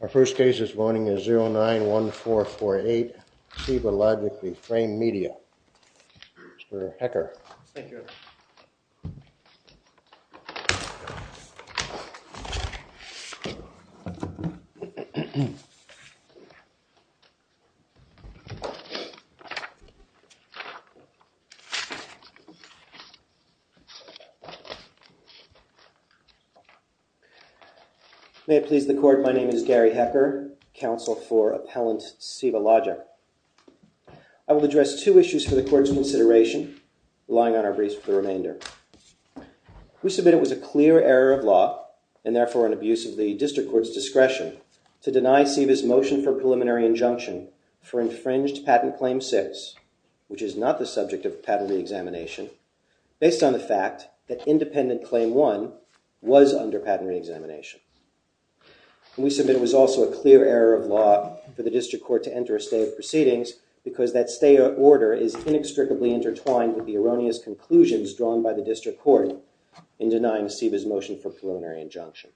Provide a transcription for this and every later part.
Our first case this morning is 091448, Ceiva Logic v. Frame Media. Mr. Hecker. Thank you. May it please the court, my name is Gary Hecker, counsel for Appellant Ceiva Logic. I will address two issues for the court's consideration, relying on our briefs for the remainder. We submit it was a clear error of law, and therefore an abuse of the district court's discretion, to deny Ceiva's motion for preliminary injunction for infringed patent claim 6, which is not the subject of patent reexamination, based on the fact that independent claim 1 was under patent reexamination. We submit it was also a clear error of law for the district court to enter a stay of proceedings because that stay order is inextricably intertwined with the erroneous conclusions drawn by the district court in denying Ceiva's motion for preliminary injunction.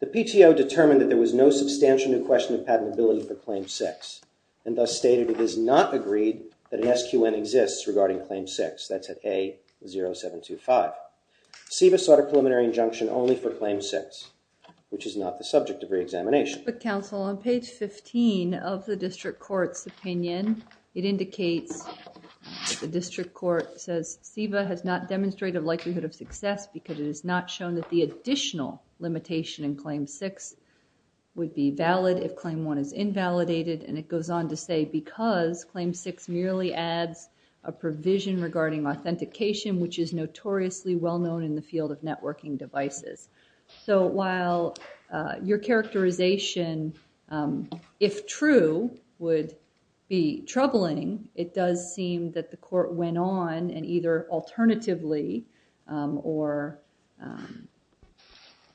The PTO determined that there was no substantial new question of patentability for claim 6, and thus stated it is not agreed that an SQN exists regarding claim 6, that's at A0725. Ceiva sought a preliminary injunction only for claim 6, which is not the subject of reexamination. Judge Book Counsel, on page 15 of the district court's opinion, it indicates the district court says Ceiva has not demonstrated likelihood of success because it has not shown that the additional limitation in claim 6 would be valid if claim 1 is invalidated, and it goes on to say because claim 6 merely adds a provision regarding authentication, which is notoriously well-known in the field of networking devices. So while your characterization, if true, would be troubling, it does seem that the court went on and either alternatively or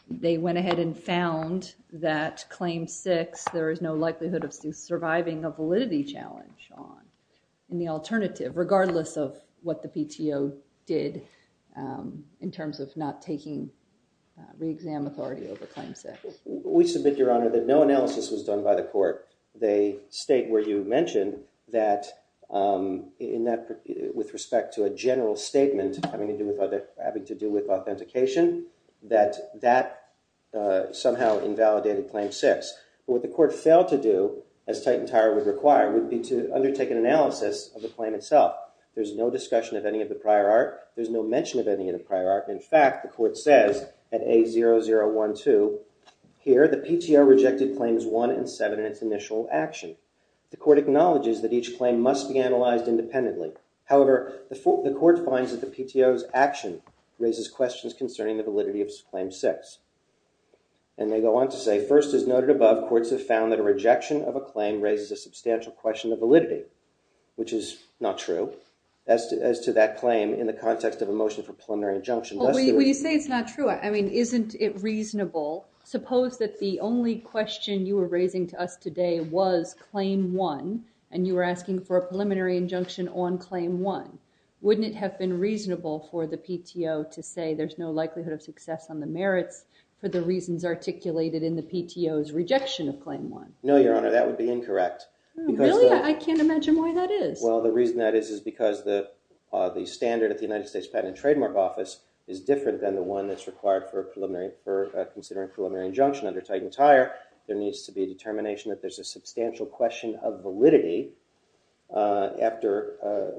they went ahead and found that claim 6, there is no likelihood of surviving a validity challenge on the alternative, regardless of what the PTO did in terms of not taking reexam authority over claim 6. We submit, Your Honor, that no analysis was done by the court. They state where you mentioned that with respect to a general statement having to do with authentication, that that somehow invalidated claim 6. What the court failed to do, as Titan Tire would require, would be to undertake an analysis of the claim itself. There's no discussion of any of the prior art. There's no mention of any of the prior art. In fact, the court says at A0012, here the PTO rejected claims 1 and 7 in its initial action. The court acknowledges that each claim must be analyzed independently. However, the court finds that the PTO's action raises questions concerning the validity of claim 6. And they go on to say, first, as noted above, courts have found that a rejection of a claim raises a substantial question of validity, which is not true as to that claim in the context of a motion for preliminary injunction. When you say it's not true, I mean, isn't it reasonable? Suppose that the only question you were raising to us today was claim 1 and you were asking for a preliminary injunction on claim 1. Wouldn't it have been reasonable for the PTO to say there's no likelihood of success on the merits for the reasons articulated in the PTO's rejection of claim 1? No, Your Honor, that would be incorrect. Really? I can't imagine why that is. Well, the reason that is is because the standard at the United States Patent and Trademark Office is different than the one that's required for considering preliminary injunction under Titan Tire. There needs to be a determination that there's a substantial question of validity after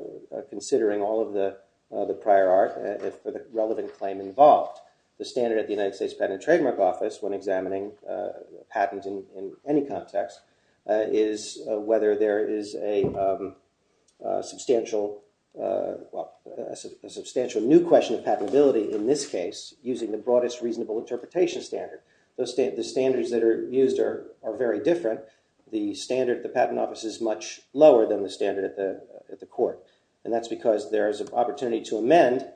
considering all of the prior art for the relevant claim involved. The standard at the United States Patent and Trademark Office when examining patents in any context is whether there is a substantial new question of patentability in this case using the broadest reasonable interpretation standard. The standards that are used are very different. The standard at the patent office is much lower than the standard at the court and that's because there's an opportunity to amend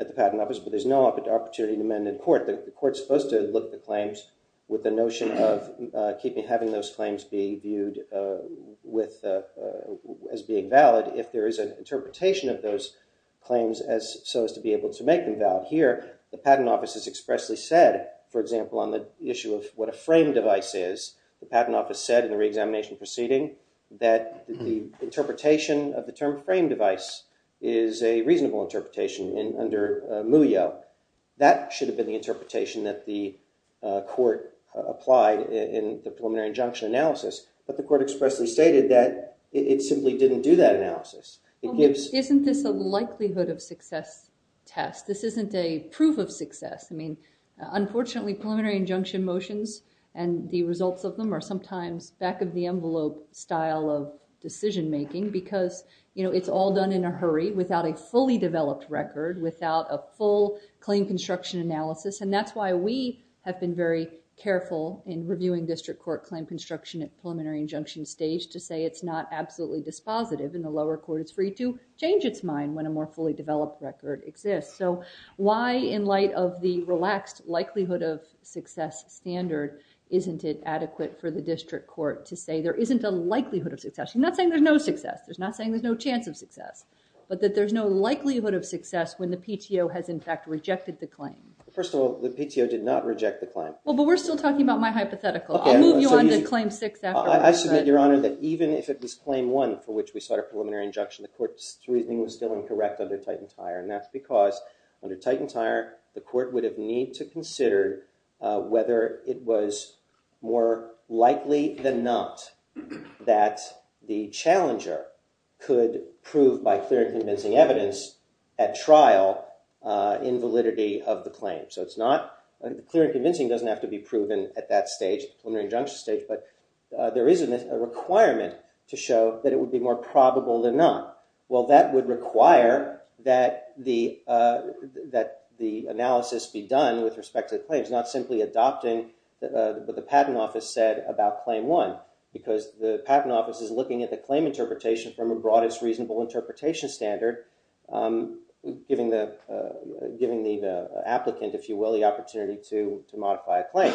at the patent office but there's no opportunity to amend in court. The court's supposed to look at the claims with the notion of having those claims be viewed as being valid if there is an interpretation of those claims so as to be able to make them valid. Here, the patent office has expressly said, for example, on the issue of what a frame device is, the patent office said in the re-examination proceeding that the interpretation of the term frame device is a reasonable interpretation under MUYO. That should have been the interpretation that the court applied in the preliminary injunction analysis but the court expressly stated that it simply didn't do that analysis. Isn't this a likelihood of success test? This isn't a proof of success. Unfortunately, preliminary injunction motions and the results of them are sometimes back of the envelope style of decision making because it's all done in a hurry without a fully developed record, without a full claim construction analysis and that's why we have been very careful in reviewing district court claim construction at preliminary injunction stage to say it's not absolutely dispositive and the lower court is free to change its mind when a more fully developed record exists. So why, in light of the relaxed likelihood of success standard, isn't it adequate for the district court to say there isn't a likelihood of success? I'm not saying there's no success. I'm not saying there's no chance of success but that there's no likelihood of success when the PTO has in fact rejected the claim. First of all, the PTO did not reject the claim. Well, but we're still talking about my hypothetical. I'll move you on to claim six. I submit, Your Honor, that even if it was claim one for which we sought a preliminary injunction, the court's reasoning was still incorrect under Titan-Tyer and that's because under Titan-Tyer the court would have need to consider whether it was more likely than not that the challenger could prove by clear and convincing evidence at trial invalidity of the claim. So it's not clear and convincing doesn't have to be proven at that stage, preliminary injunction stage, but there is a requirement to show that it would be more probable than not. Well, that would require that the analysis be done with respect to the claims, not simply adopting what the patent office said about claim one because the patent office is looking at the claim interpretation from a broadest reasonable interpretation standard, giving the applicant, if you will, the opportunity to modify a claim.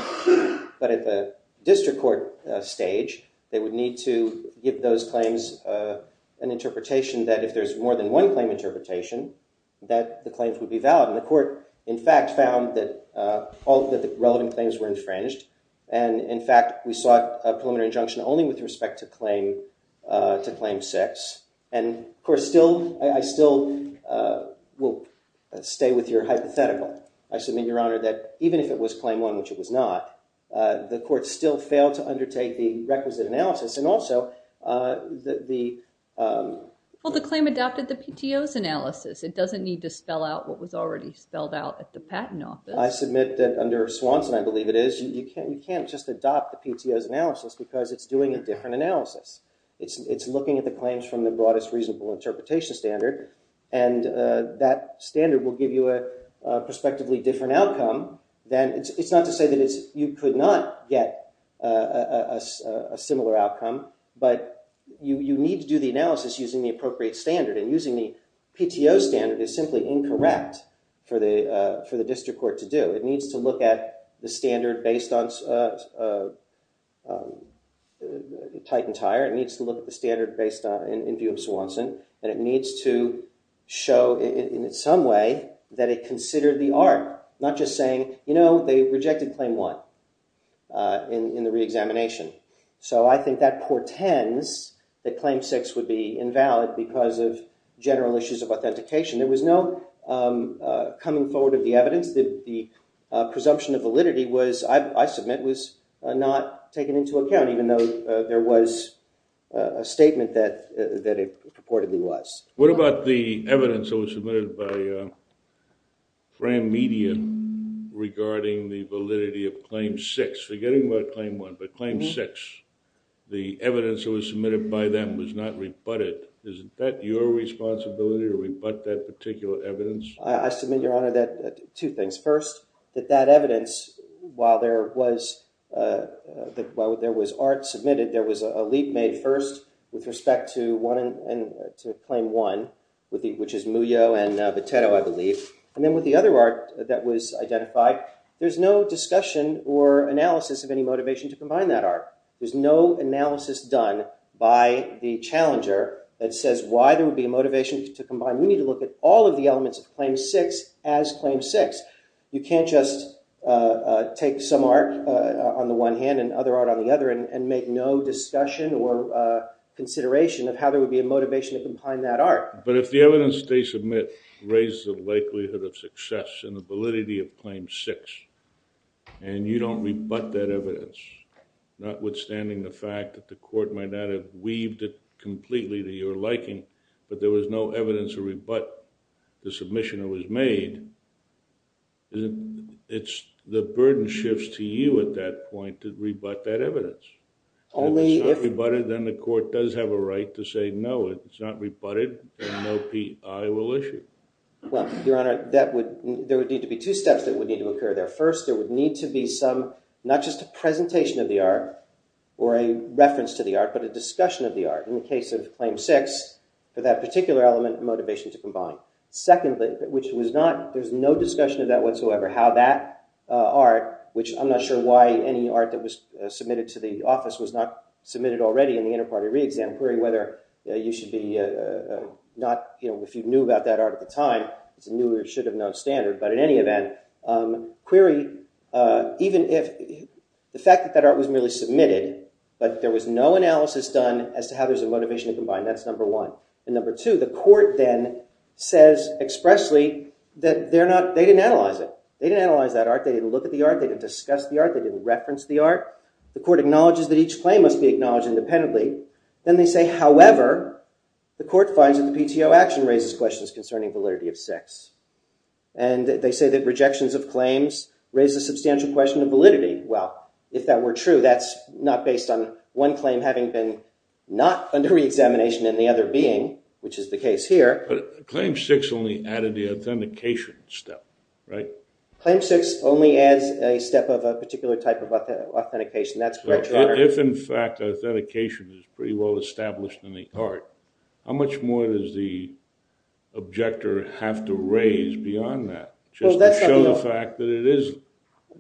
But at the district court stage, they would need to give those claims an interpretation that if there's more than one claim interpretation, that the claims would be valid. And the court, in fact, found that all of the relevant claims were infringed and, in fact, we sought a preliminary injunction only with respect to claim six. And, of course, I still will stay with your hypothetical. I submit, Your Honor, that even if it was claim one, which it was not, the court still failed to undertake the requisite analysis and also the- Well, the claim adopted the PTO's analysis. It doesn't need to spell out what was already spelled out at the patent office. I submit that under Swanson, I believe it is, you can't just adopt the PTO's analysis because it's doing a different analysis. It's looking at the claims from the broadest reasonable interpretation standard and that standard will give you a prospectively different outcome. It's not to say that you could not get a similar outcome, but you need to do the analysis using the appropriate standard. And using the PTO standard is simply incorrect for the district court to do. It needs to look at the standard based on Titan Tire. It needs to look at the standard based on- in view of Swanson. And it needs to show in some way that it considered the art, not just saying, you know, they rejected claim one in the re-examination. So I think that portends that claim six would be invalid because of general issues of authentication. There was no coming forward of the evidence. The presumption of validity was, I submit, was not taken into account, even though there was a statement that it purportedly was. What about the evidence that was submitted by Cram Media regarding the validity of claim six? Forgetting about claim one, but claim six, the evidence that was submitted by them was not rebutted. Isn't that your responsibility to rebut that particular evidence? I submit, Your Honor, that- two things. First, that that evidence, while there was art submitted, there was a leap made first with respect to claim one, which is Muyo and Boteto, I believe. And then with the other art that was identified, there's no discussion or analysis of any motivation to combine that art. There's no analysis done by the challenger that says why there would be a motivation to combine. We need to look at all of the elements of claim six as claim six. You can't just take some art on the one hand and other art on the other and make no discussion or consideration of how there would be a motivation to combine that art. But if the evidence they submit raised the likelihood of success and the validity of claim six, and you don't rebut that evidence, notwithstanding the fact that the court might not have weaved it completely to your liking, but there was no evidence to rebut the submission that was made, the burden shifts to you at that point to rebut that evidence. If it's not rebutted, then the court does have a right to say no, if it's not rebutted, then no PI will issue. Well, Your Honor, there would need to be two steps that would need to occur there. First, there would need to be some, not just a presentation of the art or a reference to the art, but a discussion of the art in the case of claim six for that particular element of motivation to combine. Secondly, which was not, there's no discussion of that whatsoever, how that art, which I'm not sure why any art that was submitted to the office was not submitted already in the inter-party re-exam query, whether you should be not, you know, if you knew about that art at the time, it's a new or should have known standard. But in any event, query, even if, the fact that that art was merely submitted, but there was no analysis done as to how there's a motivation to combine, that's number one. And number two, the court then says expressly that they're not, they didn't analyze it. They didn't analyze that art, they didn't look at the art, they didn't discuss the art, they didn't reference the art. The court acknowledges that each claim must be acknowledged independently. Then they say, however, the court finds that the PTO action raises questions concerning validity of six. And they say that rejections of claims raise a substantial question of validity. Well, if that were true, that's not based on one claim having been not under re-examination in the other being, which is the case here. Claim six only added the authentication step, right? Claim six only adds a step of a particular type of authentication. That's correct, Your Honor. If, in fact, authentication is pretty well established in the art, how much more does the objector have to raise beyond that just to show the fact that it is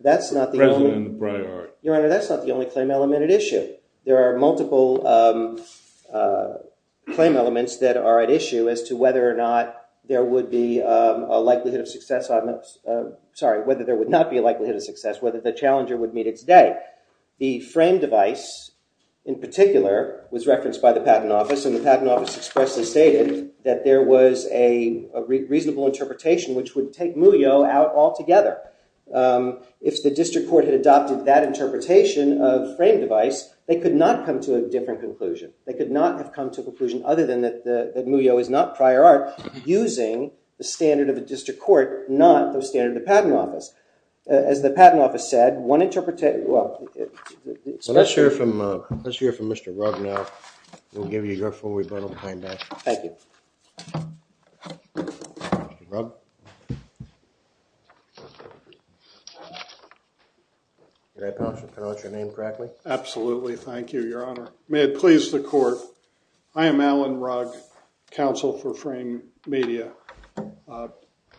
present in the prior art? Your Honor, that's not the only claim element at issue. There are multiple claim elements that are at issue as to whether or not there would be a likelihood of success on this. Sorry, whether there would not be a likelihood of success, whether the challenger would meet its day. The frame device, in particular, was referenced by the Patent Office, and the Patent Office expressly stated that there was a reasonable interpretation which would take Muyo out altogether. If the district court had adopted that interpretation of frame device, they could not come to a different conclusion. They could not have come to a conclusion other than that Muyo is not prior art using the standard of a district court, not the standard of the Patent Office. As the Patent Office said, one interpretation… Well, let's hear from Mr. Rugg now. We'll give you your full rebuttal behind that. Thank you. Mr. Rugg? Did I pronounce your name correctly? Absolutely. Thank you, Your Honor. May it please the court, I am Alan Rugg, counsel for Frame Media.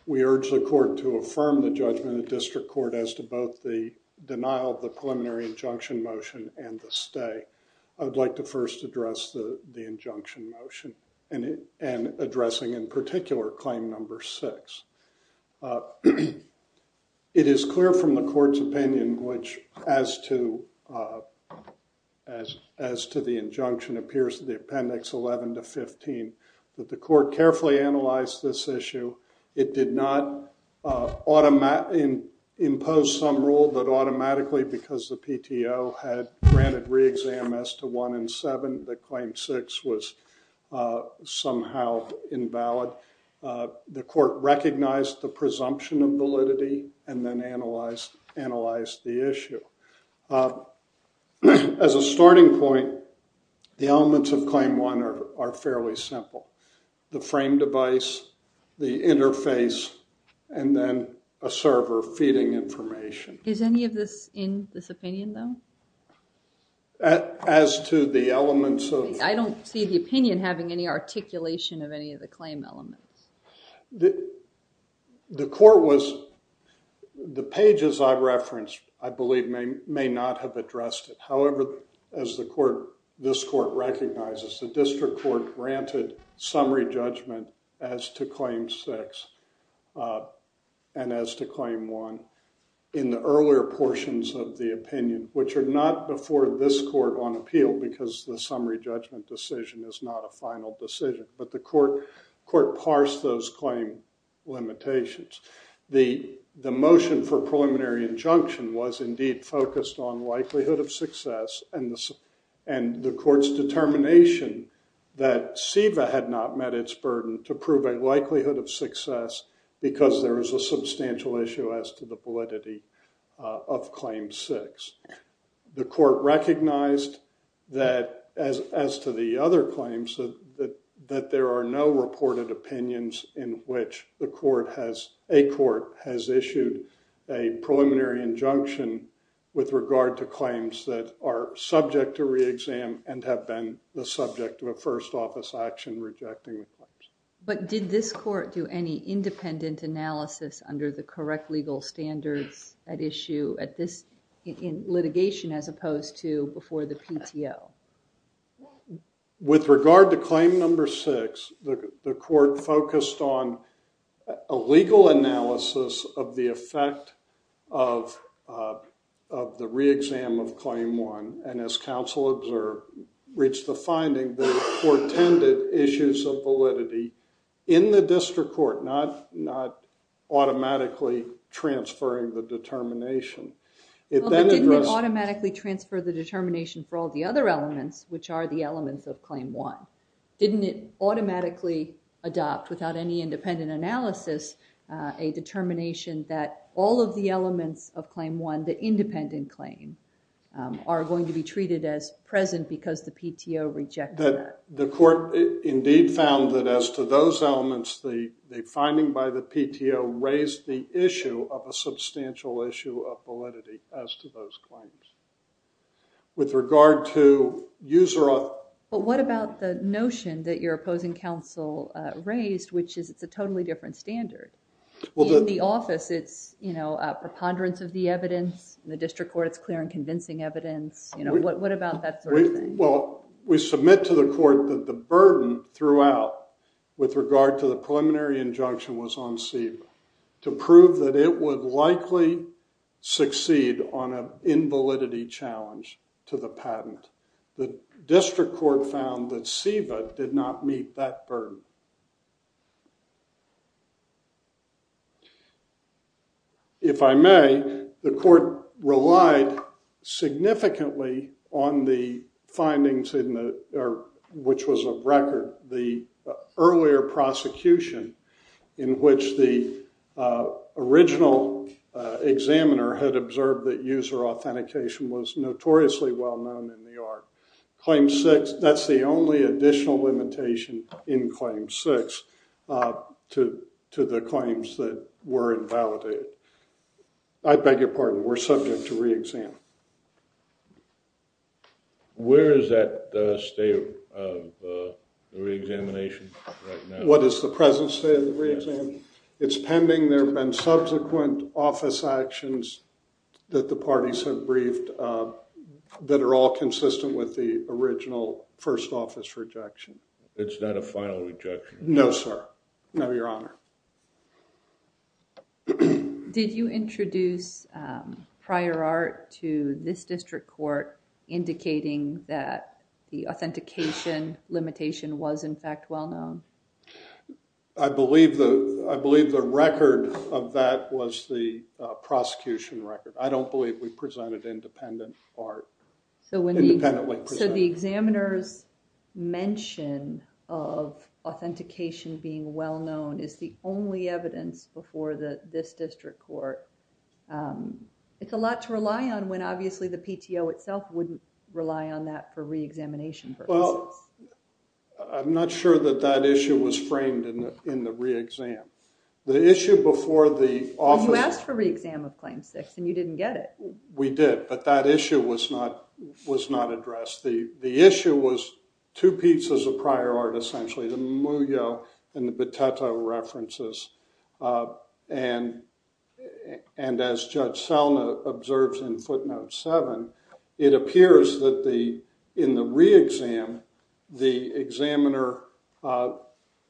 We urge the court to affirm the judgment of district court as to both the denial of the preliminary injunction motion and the stay. I would like to first address the injunction motion and addressing in particular claim number six. It is clear from the court's opinion which as to the injunction appears in the appendix 11 to 15 that the court carefully analyzed this issue. It did not impose some rule that automatically because the PTO had granted re-exam as to one in seven that claim six was somehow invalid. The court recognized the presumption of validity and then analyzed the issue. As a starting point, the elements of claim one are fairly simple. The frame device, the interface, and then a server feeding information. Is any of this in this opinion, though? As to the elements of... I don't see the opinion having any articulation of any of the claim elements. The court was... The pages I referenced, I believe, may not have addressed it. However, as this court recognizes, the district court granted summary judgment as to claim six and as to claim one. In the earlier portions of the opinion, which are not before this court on appeal because the summary judgment decision is not a final decision, but the court parsed those claim limitations. The motion for preliminary injunction was indeed focused on likelihood of success and the court's determination that SEVA had not met its burden to prove a likelihood of success because there is a substantial issue as to the validity of claim six. The court recognized that, as to the other claims, that there are no reported opinions in which the court has... A court has issued a preliminary injunction with regard to claims that are subject to re-exam and have been the subject of a first office action rejecting the claims. But did this court do any independent analysis under the correct legal standards at issue at this... In litigation as opposed to before the PTO? With regard to claim number six, the court focused on a legal analysis of the effect of the re-exam of claim one and, as counsel observed, reached the finding that the court tended issues of validity in the district court, not automatically transferring the determination. It then addressed... Well, it didn't automatically transfer the determination for all the other elements, which are the elements of claim one. Didn't it automatically adopt, without any independent analysis, a determination that all of the elements of claim one, the independent claim, are going to be treated as present because the PTO rejected that? The court indeed found that, as to those elements, the finding by the PTO raised the issue of a substantial issue of validity as to those claims. With regard to user... But what about the notion that your opposing counsel raised, which is it's a totally different standard? In the office, it's a preponderance of the evidence. In the district court, it's clear and convincing evidence. What about that sort of thing? Well, we submit to the court that the burden throughout, with regard to the preliminary injunction was on CEVA to prove that it would likely succeed on an invalidity challenge to the patent. The district court found that CEVA did not meet that burden. If I may, the court relied significantly on the findings, which was of record, the earlier prosecution, in which the original examiner had observed that user authentication was notoriously well-known in the art. Claim six, that's the only additional limitation in claim six to the claims that were invalidated. I beg your pardon, we're subject to re-exam. Where is that state of re-examination right now? What is the present state of the re-exam? It's pending. There have been subsequent office actions that the parties have briefed that are all consistent with the original first office rejection. It's not a final rejection? No, sir. No, Your Honor. Did you introduce prior art to this district court indicating that the authentication limitation was in fact well-known? I believe the record of that was the prosecution record. I don't believe we presented independent art. So the examiner's mention of authentication being well-known is the only evidence before this district court. It's a lot to rely on when obviously the PTO itself wouldn't rely on that for re-examination purposes. I'm not sure that that issue was framed in the re-exam. The issue before the office... You didn't get it. We did, but that issue was not addressed. The issue was two pieces of prior art, essentially. The Mugyo and the Boteto references. As Judge Selna observes in footnote 7, it appears that in the re-exam, the examiner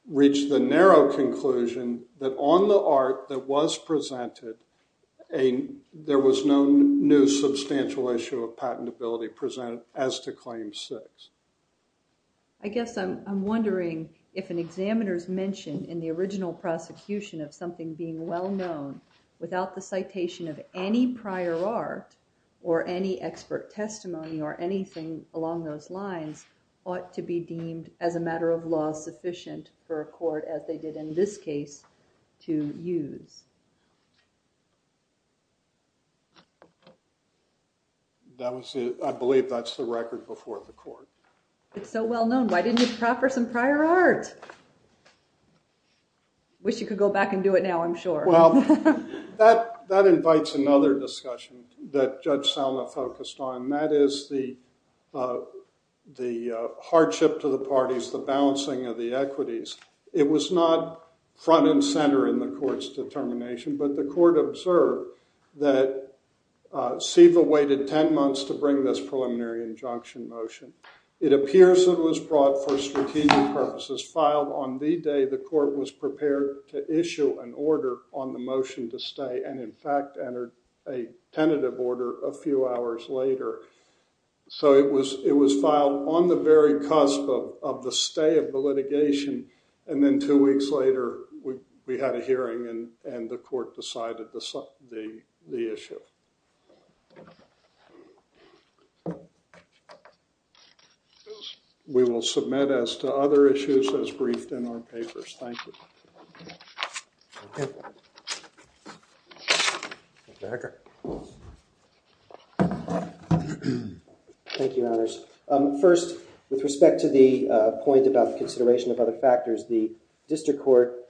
reached the narrow conclusion that on the art that was presented, there was no new substantial issue of patentability presented as to Claim 6. I guess I'm wondering if an examiner's mention in the original prosecution of something being well-known without the citation of any prior art or any expert testimony or anything along those lines as they did in this case to use. I believe that's the record before the court. It's so well-known. Why didn't you proffer some prior art? Wish you could go back and do it now, I'm sure. That invites another discussion that Judge Selna focused on, and that is the hardship to the parties, the balancing of the equities. It was not front and center in the court's determination, but the court observed that SEVA waited 10 months to bring this preliminary injunction motion. It appears it was brought for strategic purposes. Filed on the day the court was prepared to issue an order on the motion to stay, and in fact entered a tentative order a few hours later. So it was filed on the very cusp of the stay of the litigation and then two weeks later we had a hearing and the court decided the issue. We will submit as to other issues as briefed in our papers. Thank you. Thank you, Your Honors. First, with respect to the point about the consideration of other factors, the district court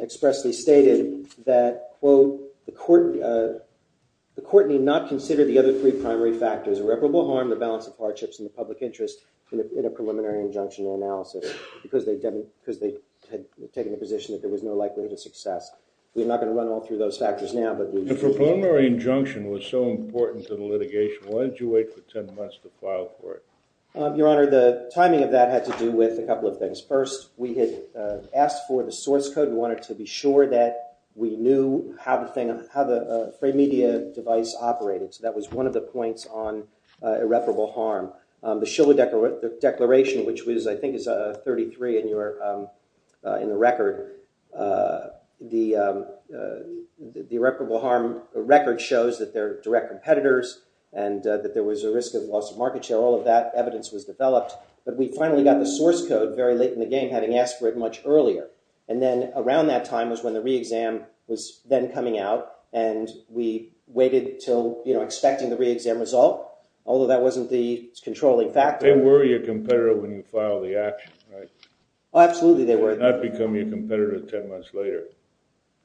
expressly stated that, quote, the court need not consider the other three primary factors, irreparable harm, the balance of hardships, and the public interest in a preliminary injunction analysis, because they had taken a position that there was no likelihood of success. We're not going to run all through those factors now. If a preliminary injunction was so important to the litigation, why did you wait for 10 months to file for it? Your Honor, the timing of that had to do with a couple of things. First, we had asked for the source code. We wanted to be sure that we knew how the free media device operated. So that was one of the points on irreparable harm. The Shiller Declaration, which I think is 33 in the record, the irreparable harm record shows that they're direct competitors and that there was a risk of loss of market share. All of that evidence was developed. But we finally got the source code very late in the game, having asked for it much earlier. And then around that time was when the re-exam was then coming out. And we waited until expecting the re-exam result, although that wasn't the controlling factor. They were your competitor when you filed the action, right? Absolutely, they were. They did not become your competitor 10 months later.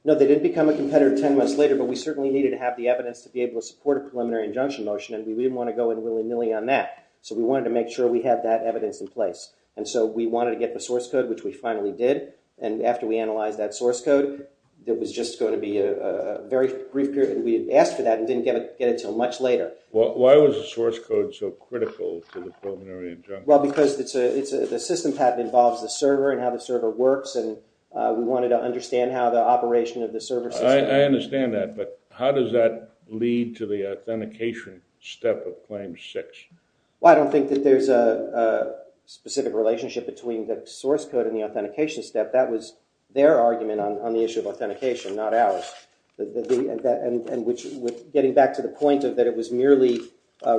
No, they did become a competitor 10 months later. But we certainly needed to have the evidence to be able to support a preliminary injunction motion. And we didn't want to go in willy-nilly on that. So we wanted to make sure we had that evidence in place. And so we wanted to get the source code, which we finally did. And after we analyzed that source code, it was just going to be a very brief period. And we had asked for that and didn't get it until much later. Why was the source code so critical to the preliminary injunction? Well, because the system path involves the server and how the server works. And we wanted to understand how the operation of the server system. I understand that. But how does that lead to the authentication step of claim six? Well, I don't think that there's a specific relationship between the source code and the authentication step. That was their argument on the issue of authentication, not ours. And getting back to the point that it was merely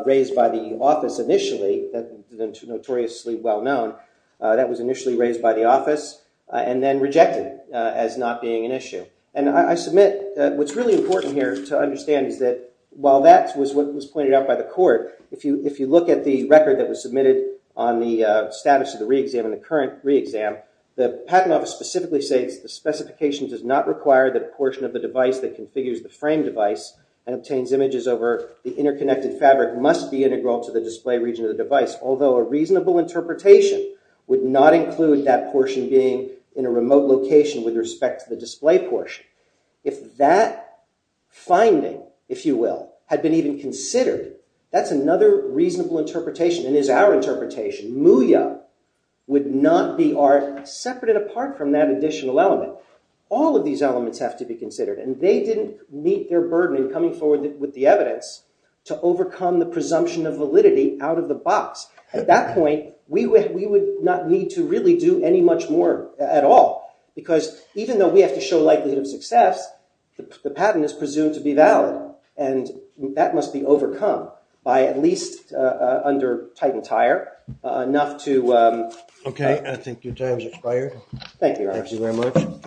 raised by the office initially, notoriously well-known, that was initially raised by the office and then rejected as not being an issue. And I submit that what's really important here to understand is that while that was what was pointed out by the court, if you look at the record that was submitted on the status of the re-exam and the current re-exam, the patent office specifically says the specification does not require that a portion of the device that configures the frame device and obtains images over the interconnected fabric must be integral to the display region of the device, although a reasonable interpretation would not include that portion being in a remote location with respect to the display portion. If that finding, if you will, had been even considered, that's another reasonable interpretation and is our interpretation. MUIA would not be art separate and apart from that additional element. All of these elements have to be considered. And they didn't meet their burden in coming forward with the evidence to overcome the presumption of validity out of the box. At that point, we would not need to really do any much more at all, because even though we have shown likelihood of success, the patent is presumed to be valid. And that must be overcome by at least, under Titan Tire, enough to- OK. I think your time has expired. Thank you. Thank you very much.